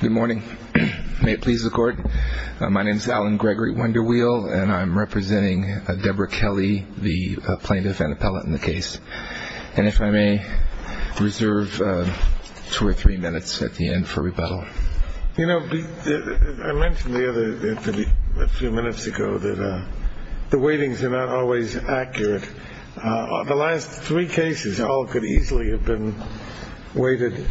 Good morning. May it please the court. My name is Alan Gregory Wunderwheel, and I'm representing Deborah Kelly, the plaintiff and appellate in the case. And if I may reserve two or three minutes at the end for rebuttal. You know, I mentioned a few minutes ago that the weightings are not always accurate. The last three cases all could easily have been weighted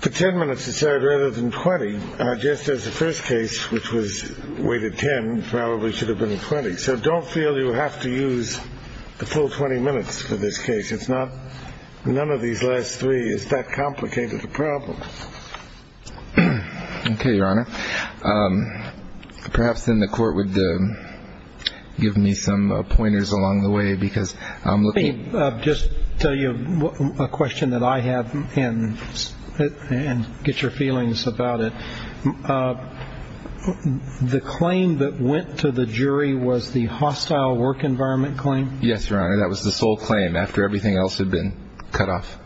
for 10 minutes or so rather than 20. Just as the first case, which was weighted 10, probably should have been 20. So don't feel you have to use the full 20 minutes for this case. It's not none of these last three. It's that complicated a problem. OK, Your Honor. Perhaps then the court would give me some pointers along the way, because I'm looking. Just tell you a question that I have and get your feelings about it. The claim that went to the jury was the hostile work environment claim. Yes, Your Honor. That was the sole claim after everything else had been cut off.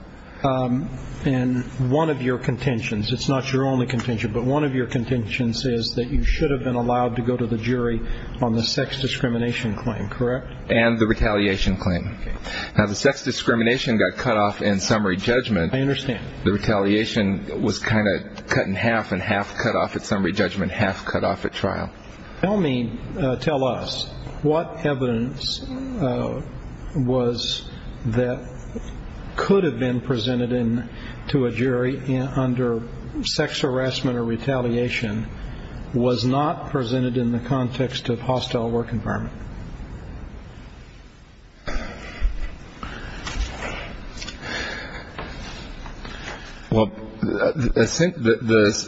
And one of your contentions, it's not your only contention, but one of your contentions is that you should have been allowed to go to the jury on the sex discrimination claim, correct? And the retaliation claim. Now, the sex discrimination got cut off in summary judgment. I understand. The retaliation was kind of cut in half and half cut off at summary judgment, half cut off at trial. Tell me, tell us what evidence was that could have been presented in to a jury under sex harassment or retaliation was not presented in the context of hostile work environment. Well, the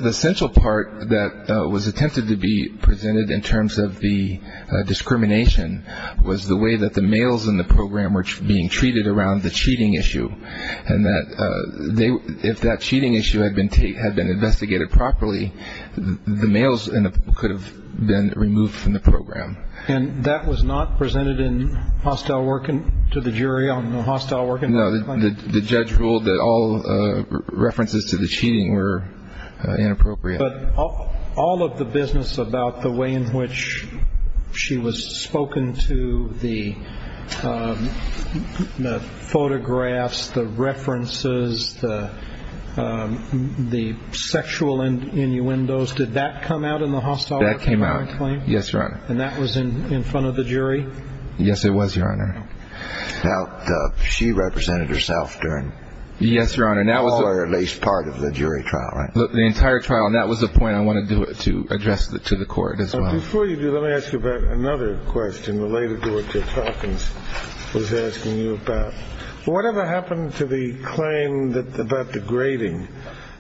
essential part that was attempted to be presented in terms of the discrimination was the way that the males in the program were being treated around the cheating issue and that if that cheating issue had been had been investigated properly, the males could have been removed from the program. And that was not presented in hostile work to the jury on the hostile work environment claim? No, the judge ruled that all references to the cheating were inappropriate. But all of the business about the way in which she was spoken to, the photographs, the references, the sexual innuendos, did that come out in the hostile work environment claim? That came out, yes, Your Honor. And that was in front of the jury? Yes, it was, Your Honor. Now, she represented herself during all or at least part of the jury trial, right? The entire trial. And that was the point I wanted to address to the court as well. Before you do, let me ask you about another question related to what Judge Hopkins was asking you about. Whatever happened to the claim about the grading?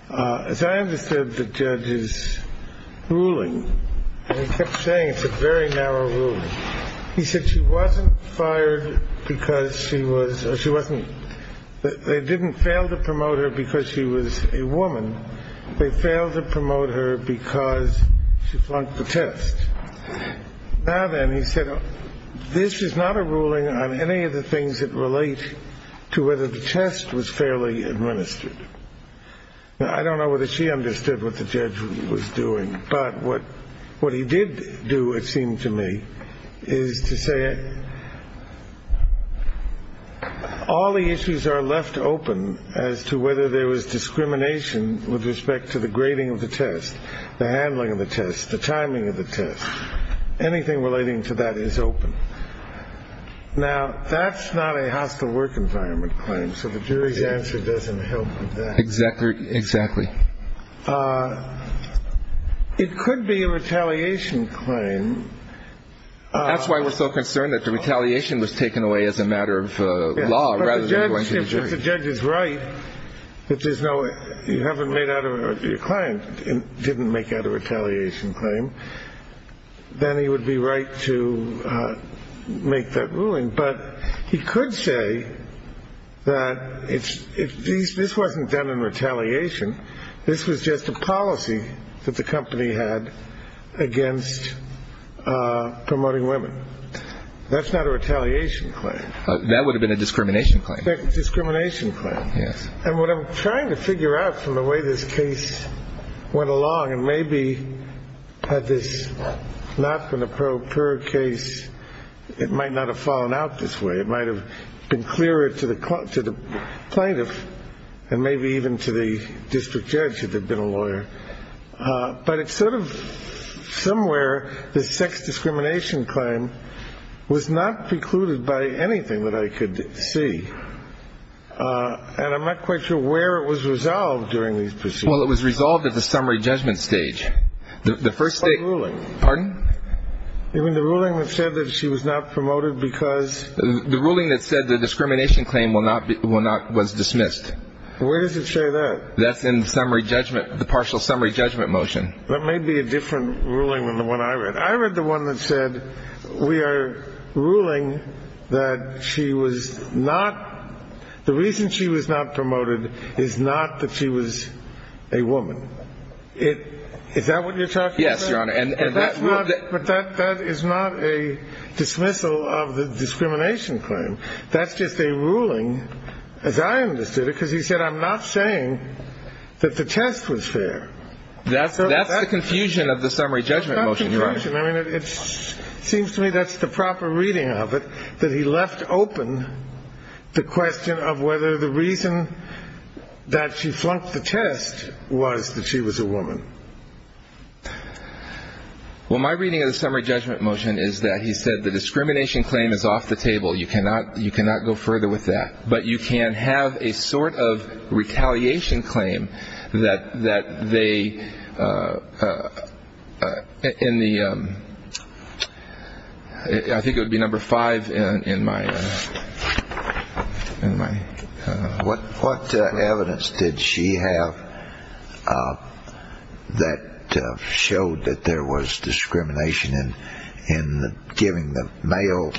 As I understood the judge's ruling, he kept saying it's a very narrow ruling. He said she wasn't fired because she was she wasn't they didn't fail to promote her because she was a woman. They failed to promote her because she flunked the test. Now, then, he said, this is not a ruling on any of the things that relate to whether the test was fairly administered. I don't know whether she understood what the judge was doing. But what what he did do, it seemed to me, is to say all the issues are left open as to whether there was discrimination with respect to the grading of the test, the handling of the test, the timing of the test, anything relating to that is open. Now, that's not a hostile work environment claim. So the jury's answer doesn't help. Exactly. Exactly. It could be a retaliation claim. That's why we're so concerned that the retaliation was taken away as a matter of law. The judge is right that there's no you haven't made out of your client and didn't make out a retaliation claim. Then he would be right to make that ruling. But he could say that it's if this wasn't done in retaliation, this was just a policy that the company had against promoting women. That's not a retaliation claim. That would have been a discrimination claim. Discrimination claim. Yes. And what I'm trying to figure out from the way this case went along and maybe had this not been a pro per case, it might not have fallen out this way. It might have been clearer to the court, to the plaintiff and maybe even to the district judge if they'd been a lawyer. But it's sort of somewhere the sex discrimination claim was not precluded by anything that I could see. And I'm not quite sure where it was resolved during these. Well, it was resolved at the summary judgment stage. The first ruling. Pardon? Even the ruling that said that she was not promoted because. The ruling that said the discrimination claim will not be will not was dismissed. Where does it say that? That's in summary judgment. The partial summary judgment motion. That may be a different ruling than the one I read. I read the one that said we are ruling that she was not. The reason she was not promoted is not that she was a woman. Is that what you're talking about? Yes, Your Honor. But that is not a dismissal of the discrimination claim. That's just a ruling, as I understood it, because he said, I'm not saying that the test was fair. That's the confusion of the summary judgment motion. I mean, it seems to me that's the proper reading of it, that he left open the question of whether the reason that she flunked the test was that she was a woman. Well, my reading of the summary judgment motion is that he said the discrimination claim is off the table. You cannot you cannot go further with that. But you can have a sort of retaliation claim that that they in the I think it would be number five in my in my. What evidence did she have that showed that there was discrimination in giving the male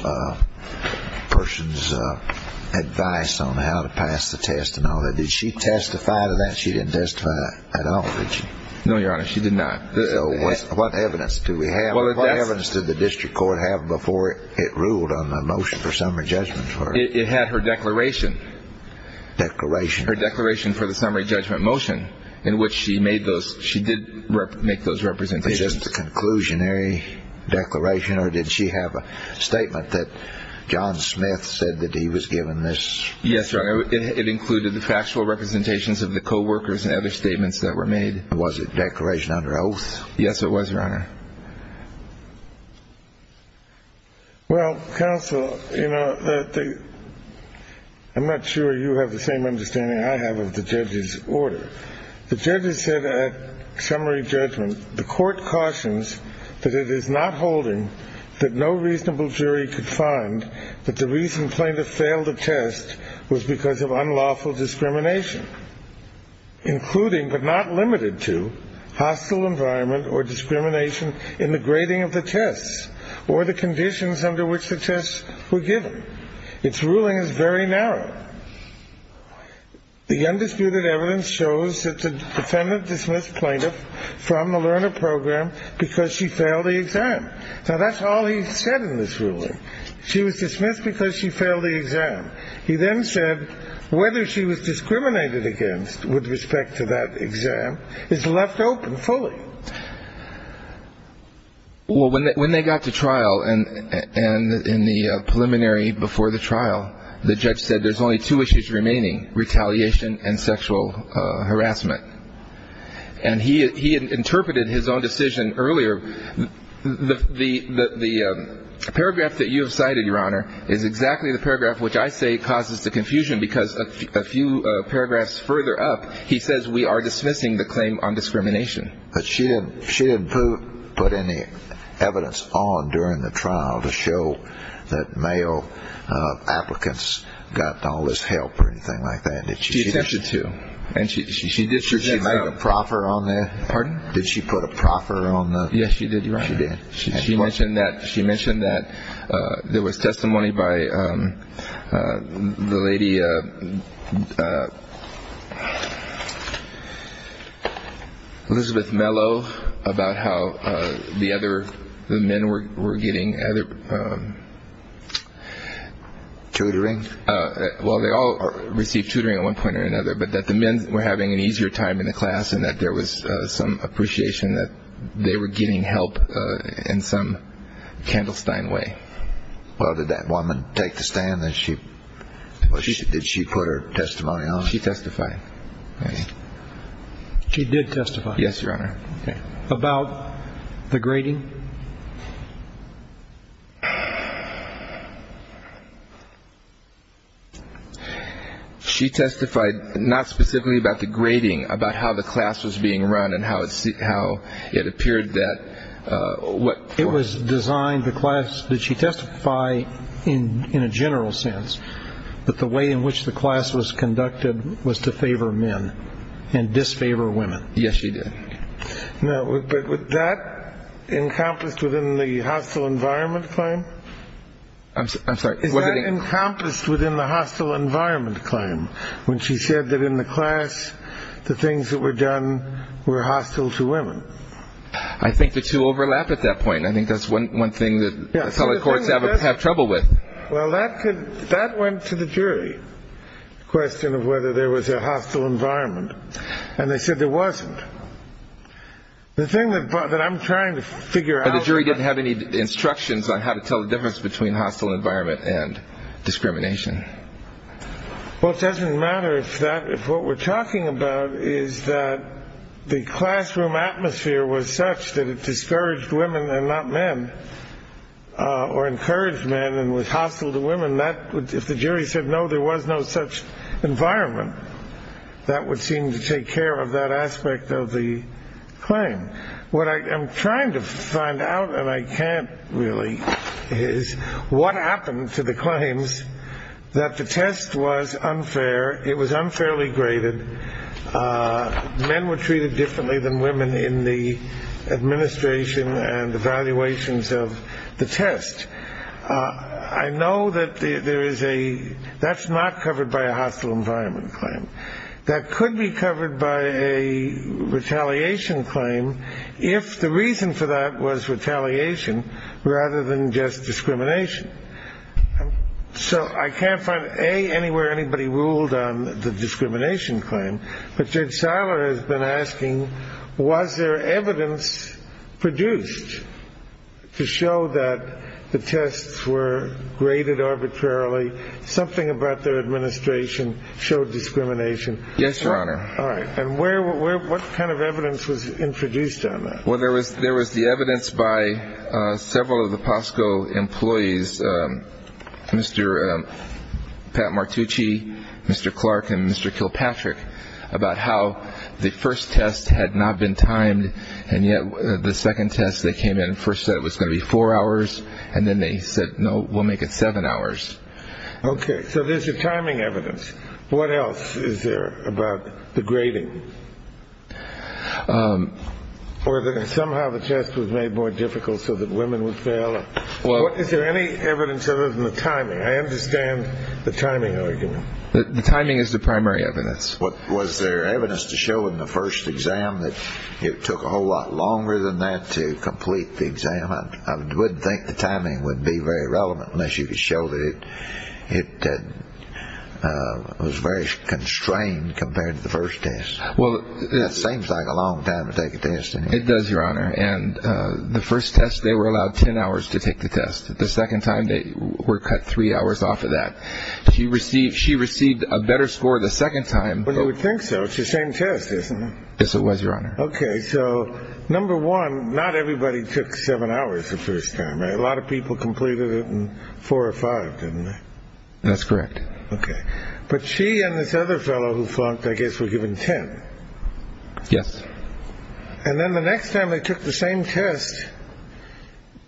person's advice on how to pass the test and all that? Did she testify to that? She didn't testify at all. No, Your Honor, she did not. What evidence do we have? What evidence did the district court have before it ruled on the motion for summary judgment? It had her declaration. Declaration. Her declaration for the summary judgment motion in which she made those. She did make those representations. Just a conclusionary declaration. Or did she have a statement that John Smith said that he was given this? Yes, Your Honor. It included the factual representations of the co-workers and other statements that were made. Was it declaration under oath? Yes, it was, Your Honor. Well, counsel, you know, I'm not sure you have the same understanding I have of the judge's order. The judge has said that summary judgment, the court cautions that it is not holding that no reasonable jury could find that the reason plaintiff failed a test was because of unlawful discrimination, including but not limited to hostile environment or discrimination in the grading of the tests or the conditions under which the tests were given. Its ruling is very narrow. The undisputed evidence shows that the defendant dismissed plaintiff from the learner program because she failed the exam. Now, that's all he said in this ruling. She was dismissed because she failed the exam. He then said whether she was discriminated against with respect to that exam is left open fully. Well, when they got to trial and in the preliminary before the trial, the judge said there's only two issues remaining, retaliation and sexual harassment. And he interpreted his own decision earlier. The paragraph that you have cited, Your Honor, is exactly the paragraph which I say causes the confusion because a few paragraphs further up, he says we are dismissing the claim on discrimination. But she didn't put any evidence on during the trial to show that male applicants got all this help or anything like that. She attempted to. Did she make a proffer on that? Pardon? Did she put a proffer on? Yes, she did. She did. She mentioned that she mentioned that there was testimony by the lady. Elizabeth Mello about how the other men were getting other tutoring. But that the men were having an easier time in the class and that there was some appreciation that they were getting help in some kind of Steinway. Well, did that woman take the stand that she did? She put her testimony on. She testified. She did testify. Yes, Your Honor. About the grading. She testified not specifically about the grading, about how the class was being run and how it seemed, how it appeared that what it was designed, the class that she testified in in a general sense, that the way in which the class was conducted was to favor men and disfavor women. Yes, she did. But was that encompassed within the hostile environment claim? I'm sorry. Was it encompassed within the hostile environment claim when she said that in the class, the things that were done were hostile to women? I think the two overlap at that point. I think that's one thing that public courts have trouble with. Well, that went to the jury, the question of whether there was a hostile environment. And they said there wasn't. The thing that I'm trying to figure out. But the jury didn't have any instructions on how to tell the difference between hostile environment and discrimination. Well, it doesn't matter if what we're talking about is that the classroom atmosphere was such that it discouraged women and not men or encouraged men and was hostile to women. If the jury said no, there was no such environment, that would seem to take care of that aspect of the claim. What I am trying to find out, and I can't really, is what happened to the claims that the test was unfair. It was unfairly graded. Men were treated differently than women in the administration and the valuations of the test. I know that there is a that's not covered by a hostile environment claim that could be covered by a retaliation claim. If the reason for that was retaliation rather than just discrimination. So I can't find a anywhere. Anybody ruled on the discrimination claim. But Judge Siler has been asking, was there evidence produced to show that the tests were graded arbitrarily? Something about their administration showed discrimination. Yes, Your Honor. All right. And where what kind of evidence was introduced on that? Well, there was there was the evidence by several of the Pasco employees, Mr. Pat Martucci, Mr. Clark and Mr. Kilpatrick, about how the first test had not been timed. And yet the second test they came in first said it was going to be four hours. And then they said, no, we'll make it seven hours. OK, so there's a timing evidence. What else is there about the grading or somehow the test was made more difficult so that women would fail? Well, is there any evidence other than the timing? I understand the timing argument. The timing is the primary evidence. What was there evidence to show in the first exam that it took a whole lot longer than that to complete the exam? I wouldn't think the timing would be very relevant unless you could show that it was very constrained compared to the first test. Well, that seems like a long time to take a test. It does, Your Honor. And the first test, they were allowed 10 hours to take the test. The second time they were cut three hours off of that. She received she received a better score the second time. But you would think so. It's the same test, isn't it? Yes, it was, Your Honor. OK, so number one, not everybody took seven hours the first time. A lot of people completed it in four or five. That's correct. But she and this other fellow who flunked, I guess, were given 10. Yes. And then the next time they took the same test,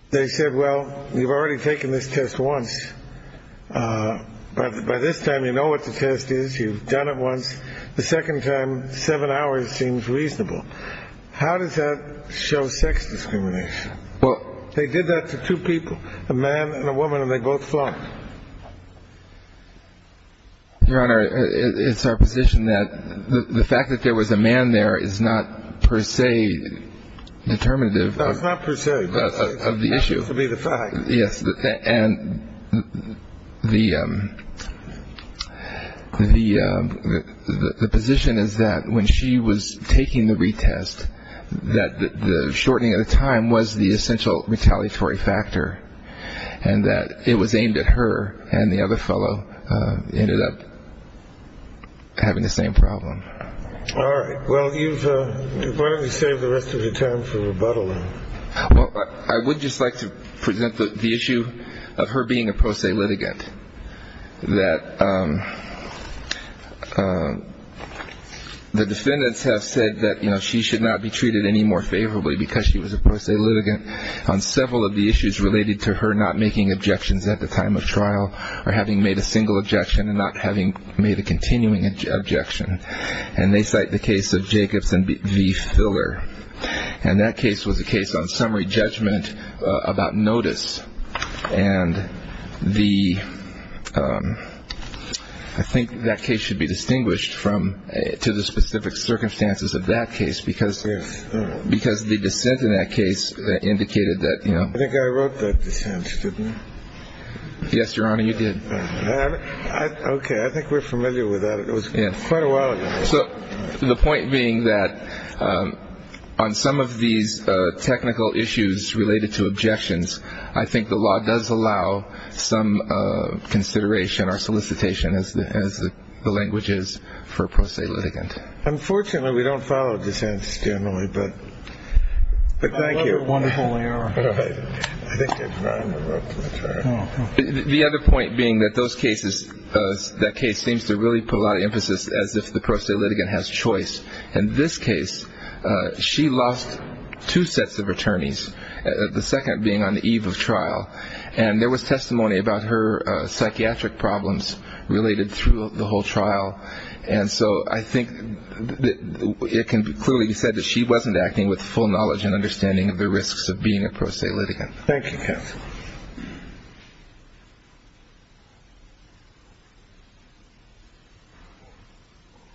they said, well, you've already taken this test once. But by this time, you know what the test is. You've done it once. The second time, seven hours seems reasonable. How does that show sex discrimination? Well, they did that to two people, a man and a woman, and they both flunked. Your Honor, it's our position that the fact that there was a man there is not per se determinative. It's not per se. Of the issue. It has to be the fact. Yes. And the the the position is that when she was taking the retest, that the shortening of the time was the essential retaliatory factor and that it was aimed at her. And the other fellow ended up having the same problem. All right. Well, you've saved the rest of the time for rebuttal. Well, I would just like to present the issue of her being a pro se litigant, that the defendants have said that she should not be treated any more favorably because she was a pro se litigant on several of the issues related to her not making objections at the time of trial or having made a single objection and not having made a continuing objection. And they cite the case of Jacobs and the filler. And that case was a case on summary judgment about notice. And the I think that case should be distinguished from to the specific circumstances of that case, because. Because the dissent in that case indicated that, you know. I think I wrote that. Yes, Your Honor, you did. OK. I think we're familiar with that. It was quite a while ago. So the point being that on some of these technical issues related to objections, I think the law does allow some consideration or solicitation as the as the language is for pro se litigant. Unfortunately, we don't follow dissents generally. But thank you. Wonderful. I think the other point being that those cases, that case seems to really put a lot of emphasis as if the pro se litigant has choice. And this case, she lost two sets of attorneys, the second being on the eve of trial. And there was testimony about her psychiatric problems related through the whole trial. And so I think it can be clearly said that she wasn't acting with full knowledge and understanding of the risks of being a pro se litigant. Thank you, counsel.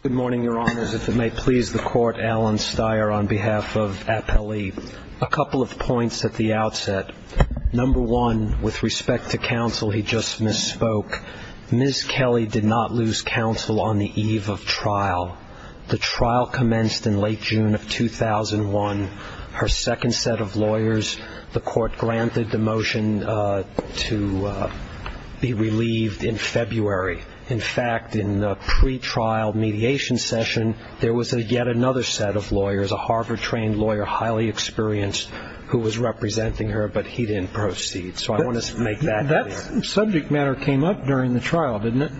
Good morning, Your Honors. If it may please the Court, Alan Steyer on behalf of Appellee. A couple of points at the outset. Number one, with respect to counsel, he just misspoke. Ms. Kelly did not lose counsel on the eve of trial. The trial commenced in late June of 2001. Her second set of lawyers, the Court granted the motion to be relieved in February. In fact, in the pretrial mediation session, there was yet another set of lawyers, a Harvard-trained lawyer, highly experienced, who was representing her, but he didn't proceed. So I want to make that clear. That subject matter came up during the trial, didn't it?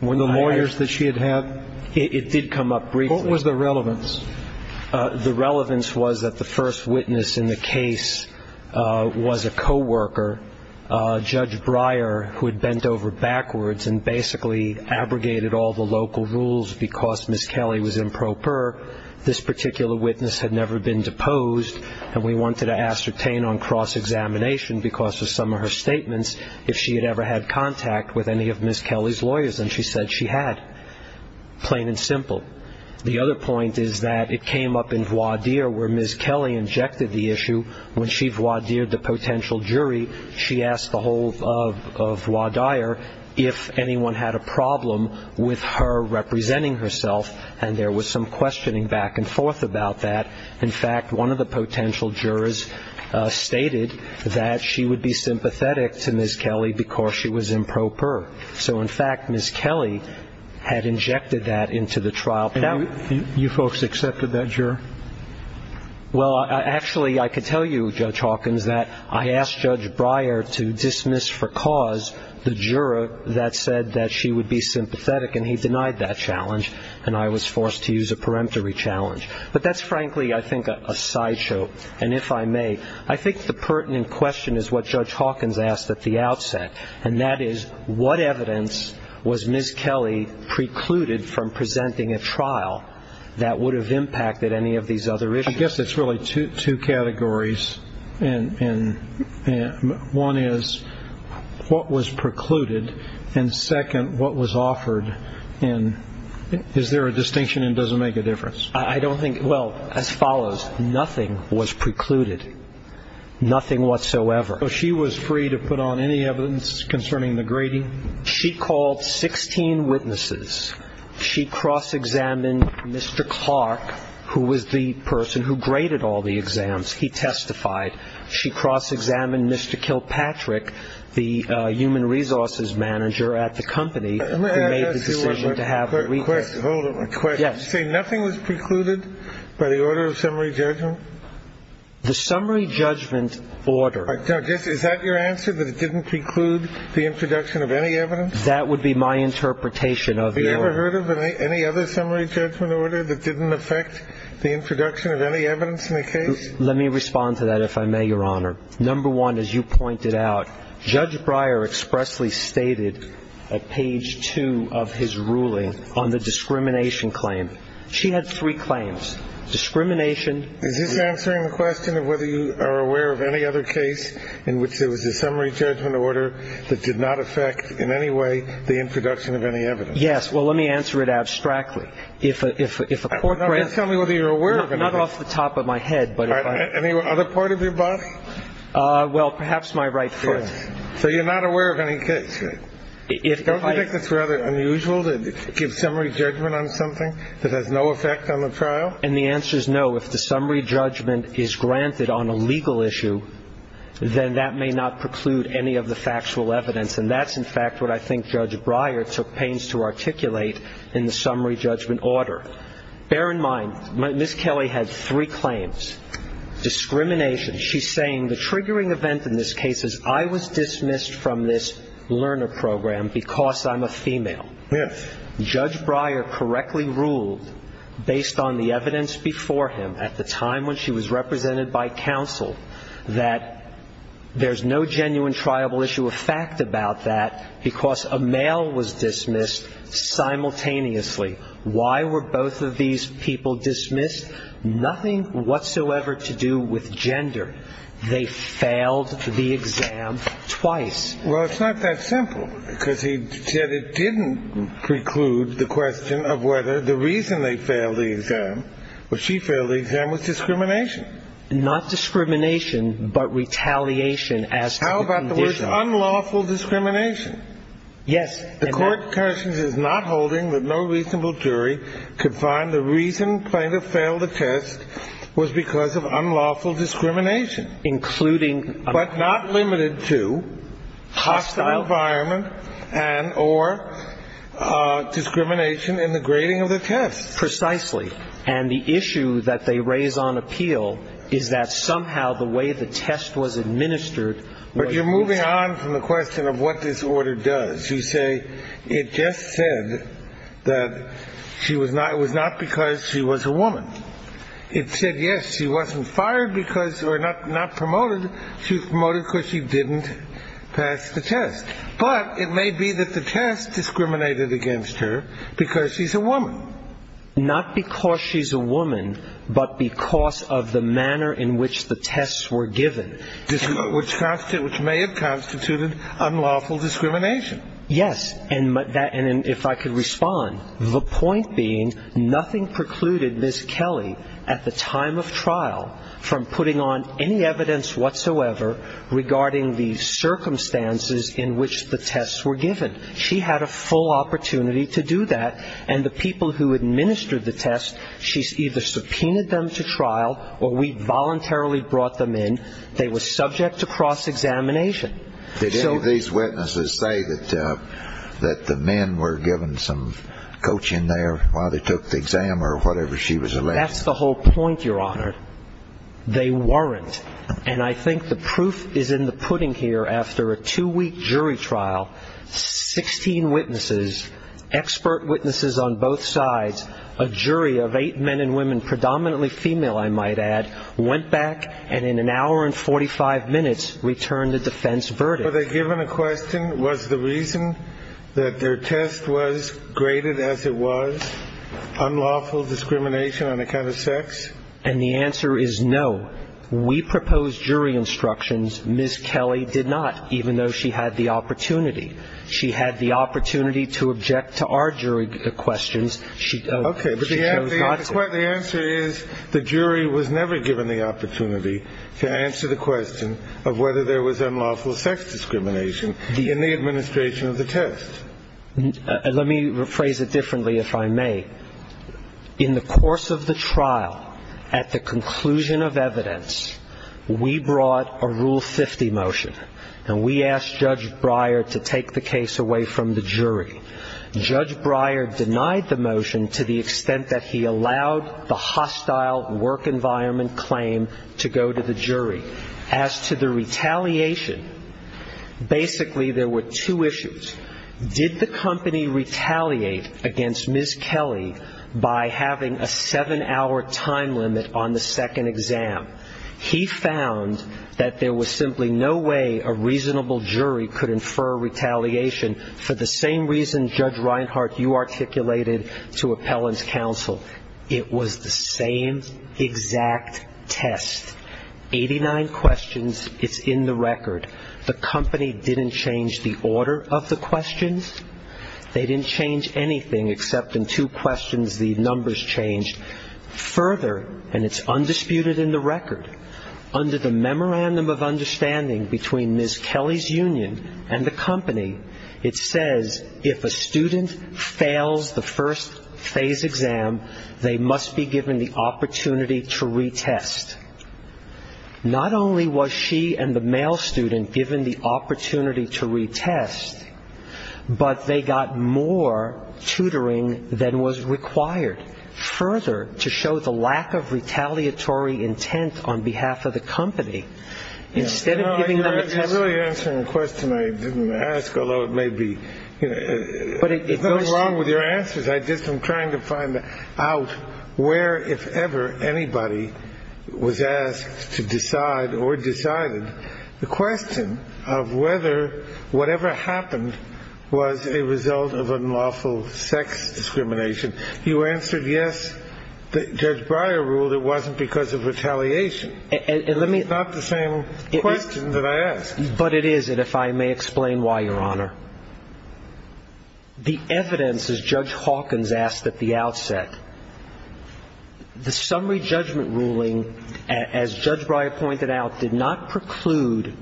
The lawyers that she had had? It did come up briefly. What was the relevance? The relevance was that the first witness in the case was a co-worker, Judge Breyer, who had bent over backwards and basically abrogated all the local rules because Ms. Kelly was improper. This particular witness had never been deposed, and we wanted to ascertain on cross-examination because of some of her statements if she had ever had contact with any of Ms. Kelly's lawyers, and she said she had. Plain and simple. The other point is that it came up in voir dire where Ms. Kelly injected the issue. When she voir dired the potential jury, she asked the whole of voir dire if anyone had a problem with her representing herself, and there was some questioning back and forth about that. In fact, one of the potential jurors stated that she would be sympathetic to Ms. Kelly because she was improper. So, in fact, Ms. Kelly had injected that into the trial. Now, you folks accepted that juror? Well, actually, I could tell you, Judge Hawkins, that I asked Judge Breyer to dismiss for cause the juror that said that she would be sympathetic, and he denied that challenge, and I was forced to use a peremptory challenge. But that's frankly, I think, a sideshow, and if I may, I think the pertinent question is what Judge Hawkins asked at the outsetet, and that is what evidence was Ms. Kelly precluded from presenting a trial that would have impacted any of these other issues? I guess it's really two categories. One is what was precluded, and second, what was offered. And is there a distinction, and does it make a difference? I don't think so. Well, as follows. Nothing was precluded. Nothing whatsoever. So she was free to put on any evidence concerning the grading? She called 16 witnesses. She cross-examined Mr. Clark, who was the person who graded all the exams. He testified. She cross-examined Mr. Kilpatrick, the human resources manager at the company, who made the decision to have the review. Let me ask you a question. Hold on. A question. Yes. Did you say nothing was precluded by the order of summary judgment? The summary judgment order. Is that your answer, that it didn't preclude the introduction of any evidence? That would be my interpretation of your order. Have you ever heard of any other summary judgment order that didn't affect the introduction of any evidence in a case? Let me respond to that, if I may, Your Honor. Number one, as you pointed out, Judge Breyer expressly stated at page two of his ruling on the discrimination claim. She had three claims. Is this answering the question of whether you are aware of any other case in which there was a summary judgment order that did not affect in any way the introduction of any evidence? Yes. Well, let me answer it abstractly. If a court granted it. Just tell me whether you're aware of it. Not off the top of my head. Any other part of your body? Well, perhaps my right foot. So you're not aware of any case. Don't you think it's rather unusual to give summary judgment on something that has no effect on the trial? And the answer is no. If the summary judgment is granted on a legal issue, then that may not preclude any of the factual evidence. And that's, in fact, what I think Judge Breyer took pains to articulate in the summary judgment order. Bear in mind, Ms. Kelly had three claims. Discrimination. She's saying the triggering event in this case is I was dismissed from this learner program because I'm a female. Yes. Judge Breyer correctly ruled, based on the evidence before him at the time when she was represented by counsel, that there's no genuine triable issue of fact about that because a male was dismissed simultaneously. Why were both of these people dismissed? Nothing whatsoever to do with gender. They failed the exam twice. Well, it's not that simple because he said it didn't preclude the question of whether the reason they failed the exam, or she failed the exam, was discrimination. Not discrimination, but retaliation as to the condition. How about the word unlawful discrimination? Yes. The Court of Cautions is not holding that no reasonable jury could find the reason plaintiff failed the test was because of unlawful discrimination. Including. But not limited to hostile environment and or discrimination in the grading of the test. Precisely. And the issue that they raise on appeal is that somehow the way the test was administered. But you're moving on from the question of what this order does. You say it just said that she was not. It was not because she was a woman. It said, yes, she wasn't fired because or not promoted. She was promoted because she didn't pass the test. But it may be that the test discriminated against her because she's a woman. Not because she's a woman, but because of the manner in which the tests were given. Which may have constituted unlawful discrimination. Yes. And if I could respond. The point being, nothing precluded Ms. Kelly at the time of trial from putting on any evidence whatsoever regarding the circumstances in which the tests were given. She had a full opportunity to do that. And the people who administered the test, she's either subpoenaed them to trial or we voluntarily brought them in. They were subject to cross-examination. Did any of these witnesses say that the men were given some coaching there while they took the exam or whatever she was alleged? That's the whole point, Your Honor. They weren't. And I think the proof is in the pudding here. After a two-week jury trial, 16 witnesses, expert witnesses on both sides, a jury of eight men and women, predominantly female, I might add, went back and in an hour and 45 minutes returned a defense verdict. Were they given a question? Was the reason that their test was graded as it was unlawful discrimination on account of sex? And the answer is no. We proposed jury instructions. Ms. Kelly did not, even though she had the opportunity. She had the opportunity to object to our jury questions. Okay. But the answer is the jury was never given the opportunity to answer the question of whether there was unlawful sex discrimination in the administration of the test. Let me rephrase it differently, if I may. In the course of the trial, at the conclusion of evidence, we brought a Rule 50 motion. And we asked Judge Breyer to take the case away from the jury. Judge Breyer denied the motion to the extent that he allowed the hostile work environment claim to go to the jury. As to the retaliation, basically there were two issues. Did the company retaliate against Ms. Kelly by having a seven-hour time limit on the second exam? He found that there was simply no way a reasonable jury could infer retaliation for the same reason, Judge Reinhart, you articulated to appellants' counsel. It was the same exact test. Eighty-nine questions. It's in the record. The company didn't change the order of the questions. They didn't change anything except in two questions the numbers changed. Further, and it's undisputed in the record, under the Memorandum of Understanding between Ms. Kelly's union and the company, it says if a student fails the first phase exam, they must be given the opportunity to retest. Not only was she and the male student given the opportunity to retest, but they got more tutoring than was required. Further, to show the lack of retaliatory intent on behalf of the company, instead of giving them a test. You're really answering a question I didn't ask, although it may be wrong with your answers. I'm just trying to find out where, if ever, anybody was asked to decide or decided the question of whether whatever happened was a result of unlawful sex discrimination. You answered yes, Judge Breyer ruled it wasn't because of retaliation. It's not the same question that I asked. But it is, and if I may explain why, Your Honor. The evidence, as Judge Hawkins asked at the outset, the summary judgment ruling, as Judge Breyer pointed out, did not preclude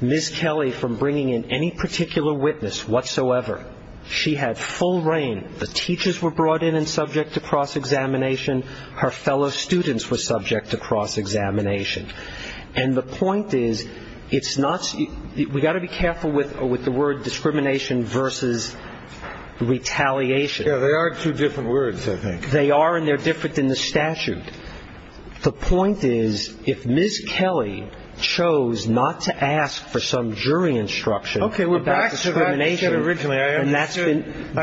Ms. Kelly from bringing in any particular witness whatsoever. She had full reign. The teachers were brought in and subject to cross-examination. Her fellow students were subject to cross-examination. And the point is, we've got to be careful with the word discrimination versus retaliation. Yeah, they are two different words, I think. They are, and they're different in the statute. The point is, if Ms. Kelly chose not to ask for some jury instruction about discrimination. Okay, we're back to that issue originally.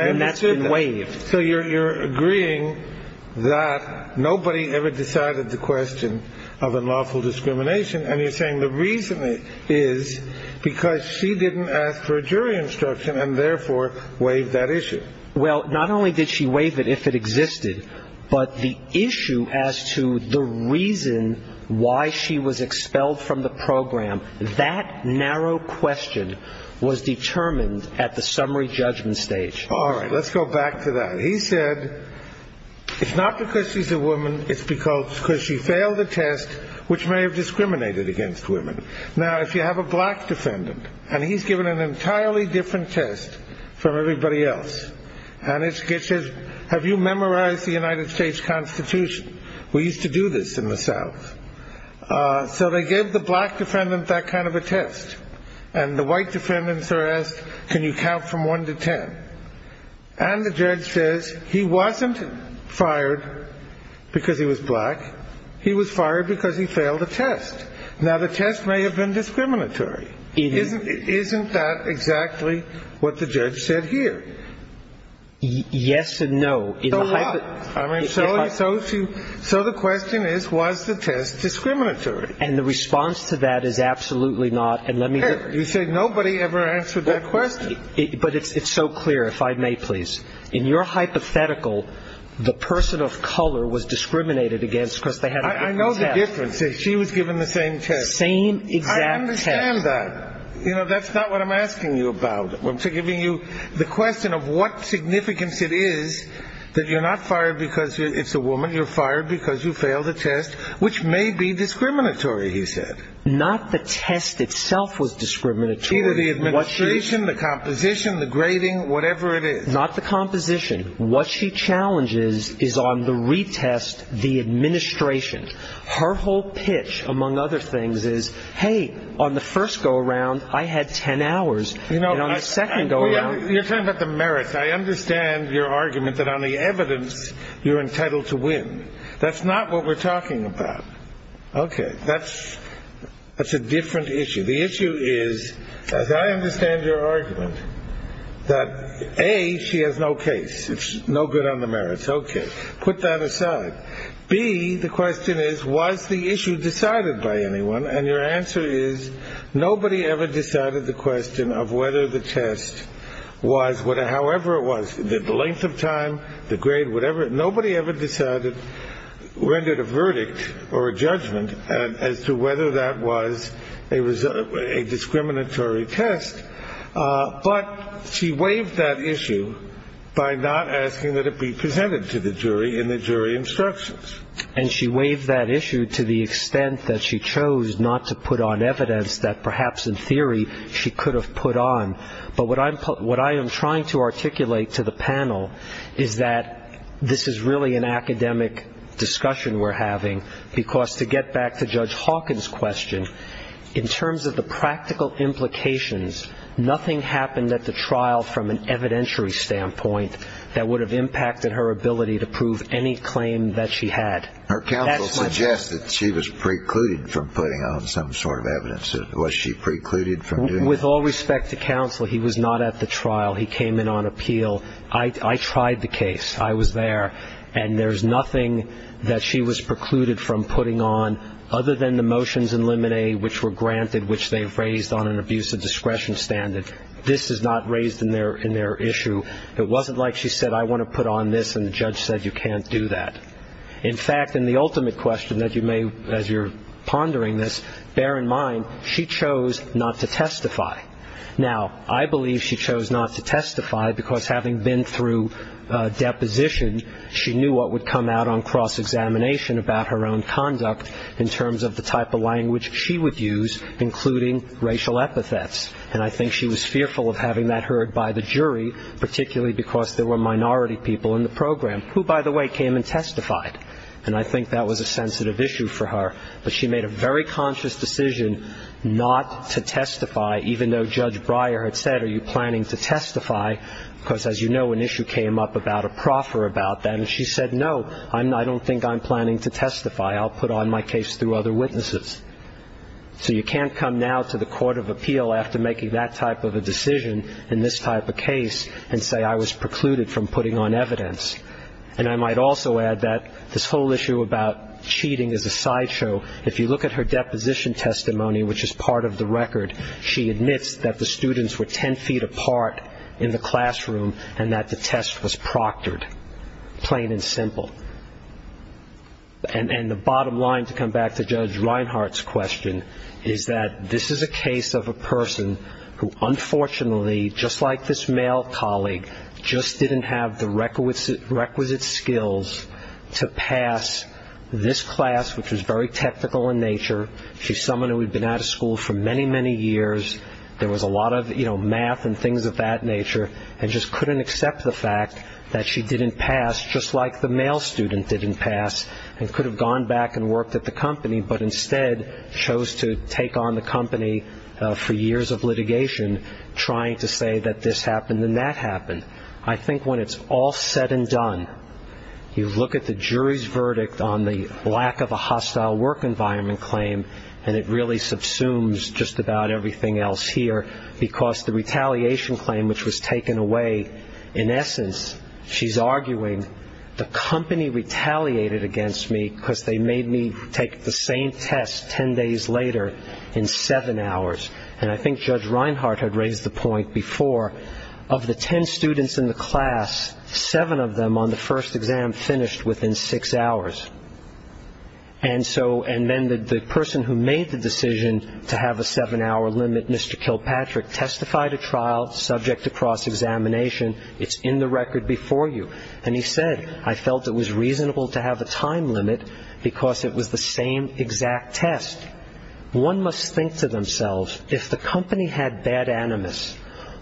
And that's been waived. So you're agreeing that nobody ever decided the question of unlawful discrimination, and you're saying the reason is because she didn't ask for a jury instruction and therefore waived that issue. Well, not only did she waive it if it existed, but the issue as to the reason why she was expelled from the program, that narrow question was determined at the summary judgment stage. All right, let's go back to that. He said, it's not because she's a woman, it's because she failed a test which may have discriminated against women. Now, if you have a black defendant, and he's given an entirely different test from everybody else, and it says, have you memorized the United States Constitution? We used to do this in the South. So they gave the black defendant that kind of a test. And the white defendants are asked, can you count from 1 to 10? And the judge says, he wasn't fired because he was black. He was fired because he failed a test. Now, the test may have been discriminatory. Isn't that exactly what the judge said here? Yes and no. So the question is, was the test discriminatory? And the response to that is absolutely not. You said nobody ever answered that question. But it's so clear, if I may please. In your hypothetical, the person of color was discriminated against because they had a different test. I know the difference. She was given the same test. Same exact test. I understand that. You know, that's not what I'm asking you about. I'm giving you the question of what significance it is that you're not fired because it's a woman. You're fired because you failed a test, which may be discriminatory, he said. Not the test itself was discriminatory. Either the administration, the composition, the grading, whatever it is. Not the composition. What she challenges is on the retest, the administration. Her whole pitch, among other things, is, hey, on the first go-around, I had 10 hours. You know, on the second go-around. You're talking about the merits. I understand your argument that on the evidence, you're entitled to win. That's not what we're talking about. Okay. That's a different issue. The issue is, as I understand your argument, that, A, she has no case. It's no good on the merits. Okay. Put that aside. B, the question is, was the issue decided by anyone? And your answer is, nobody ever decided the question of whether the test was, however it was, the length of time, the grade, whatever. Nobody ever decided, rendered a verdict or a judgment as to whether that was a discriminatory test. But she waived that issue by not asking that it be presented to the jury in the jury instructions. And she waived that issue to the extent that she chose not to put on evidence that perhaps in theory she could have put on. But what I am trying to articulate to the panel is that this is really an academic discussion we're having, because to get back to Judge Hawkins' question, in terms of the practical implications, nothing happened at the trial from an evidentiary standpoint that would have impacted her ability to prove any claim that she had. Her counsel suggested she was precluded from putting on some sort of evidence. Was she precluded from doing that? With all respect to counsel, he was not at the trial. He came in on appeal. I tried the case. I was there. And there's nothing that she was precluded from putting on, other than the motions in Limine, which were granted, which they've raised on an abuse of discretion standard. This is not raised in their issue. It wasn't like she said, I want to put on this, and the judge said, you can't do that. In fact, in the ultimate question that you may, as you're pondering this, bear in mind, she chose not to testify. Now, I believe she chose not to testify because having been through deposition, she knew what would come out on cross-examination about her own conduct in terms of the type of language she would use, including racial epithets. And I think she was fearful of having that heard by the jury, particularly because there were minority people in the program, who, by the way, came and testified. And I think that was a sensitive issue for her. But she made a very conscious decision not to testify, even though Judge Breyer had said, are you planning to testify, because, as you know, an issue came up about a proffer about that. And she said, no, I don't think I'm planning to testify. I'll put on my case through other witnesses. So you can't come now to the court of appeal after making that type of a decision in this type of case and say I was precluded from putting on evidence. And I might also add that this whole issue about cheating is a sideshow. If you look at her deposition testimony, which is part of the record, she admits that the students were ten feet apart in the classroom and that the test was proctored, plain and simple. And the bottom line, to come back to Judge Reinhart's question, is that this is a case of a person who unfortunately, just like this male colleague, just didn't have the requisite skills to pass this class, which was very technical in nature. She's someone who had been out of school for many, many years. There was a lot of, you know, math and things of that nature, and just couldn't accept the fact that she didn't pass, just like the male student didn't pass, and could have gone back and worked at the company, but instead chose to take on the company for years of litigation trying to say that this happened and that happened. I think when it's all said and done, you look at the jury's verdict on the lack of a hostile work environment claim, and it really subsumes just about everything else here, because the retaliation claim, which was taken away, in essence, she's arguing, the company retaliated against me because they made me take the same test ten days later in seven hours. And I think Judge Reinhart had raised the point before, of the ten students in the class, seven of them on the first exam finished within six hours. And then the person who made the decision to have a seven-hour limit, Mr. Kilpatrick, testified at trial subject to cross-examination. It's in the record before you. And he said, I felt it was reasonable to have a time limit because it was the same exact test. One must think to themselves, if the company had bad animus,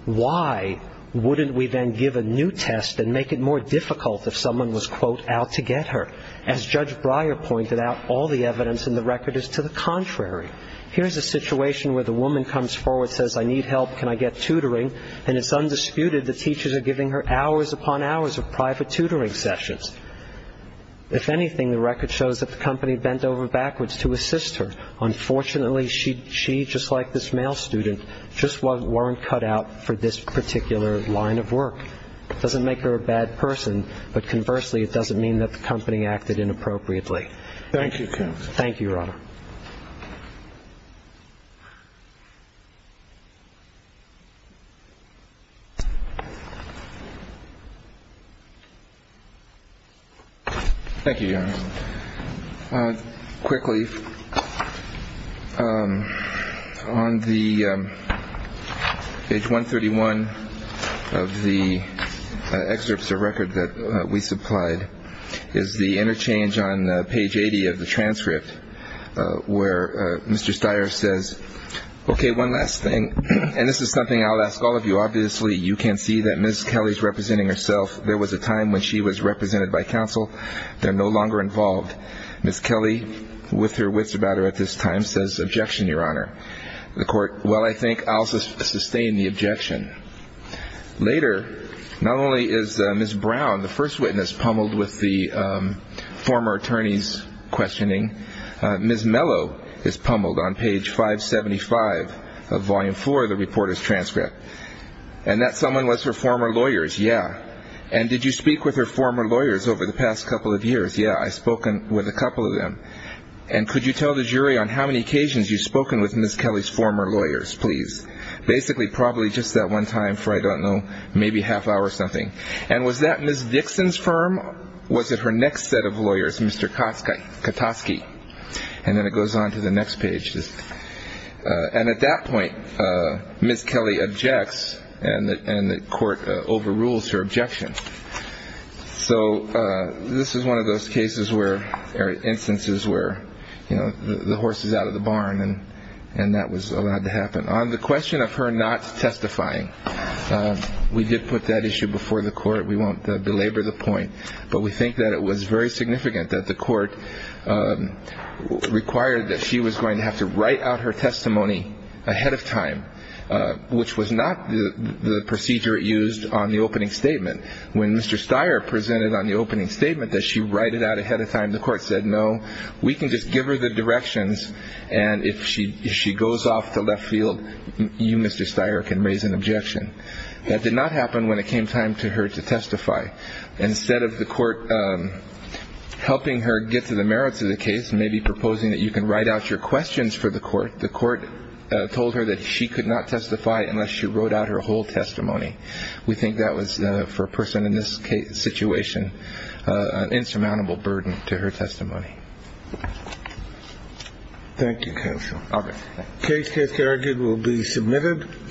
why wouldn't we then give a new test and make it more difficult if someone was, quote, out to get her? As Judge Breyer pointed out, all the evidence in the record is to the contrary. Here's a situation where the woman comes forward, says, I need help, can I get tutoring, and it's undisputed the teachers are giving her hours upon hours of private tutoring sessions. If anything, the record shows that the company bent over backwards to assist her. Unfortunately, she, just like this male student, just weren't cut out for this particular line of work. It doesn't make her a bad person, but conversely, it doesn't mean that the company acted inappropriately. Thank you, counsel. Thank you, Your Honor. Thank you, Your Honor. Quickly. On the page 131 of the excerpts of record that we supplied is the interchange on page 80 of the transcript where Mr. Steyer says, OK, one last thing. And this is something I'll ask all of you. Obviously, you can see that Miss Kelly is representing herself. There was a time when she was represented by counsel. They're no longer involved. Miss Kelly, with her wits about her at this time, says, objection, Your Honor. The court, well, I think I'll sustain the objection. Later, not only is Miss Brown, the first witness, pummeled with the former attorney's questioning, Miss Mellow is pummeled on page 575 of volume four of the reporter's transcript. And that someone was her former lawyers, yeah. And did you speak with her former lawyers over the past couple of years? Yeah, I've spoken with a couple of them. And could you tell the jury on how many occasions you've spoken with Miss Kelly's former lawyers, please? Basically, probably just that one time for, I don't know, maybe a half hour or something. And was that Miss Dixon's firm? Was it her next set of lawyers, Mr. Katosky? And then it goes on to the next page. And at that point, Miss Kelly objects, and the court overrules her objection. So this is one of those instances where the horse is out of the barn, and that was allowed to happen. On the question of her not testifying, we did put that issue before the court. We won't belabor the point. But we think that it was very significant that the court required that she was going to have to write out her testimony ahead of time, which was not the procedure used on the opening statement. When Mr. Steyer presented on the opening statement that she write it out ahead of time, the court said, no, we can just give her the directions, and if she goes off to left field, you, Mr. Steyer, can raise an objection. That did not happen when it came time to her to testify. Instead of the court helping her get to the merits of the case, maybe proposing that you can write out your questions for the court, the court told her that she could not testify unless she wrote out her whole testimony. We think that was, for a person in this situation, an insurmountable burden to her testimony. Thank you, counsel. Okay. The case has been argued and will be submitted.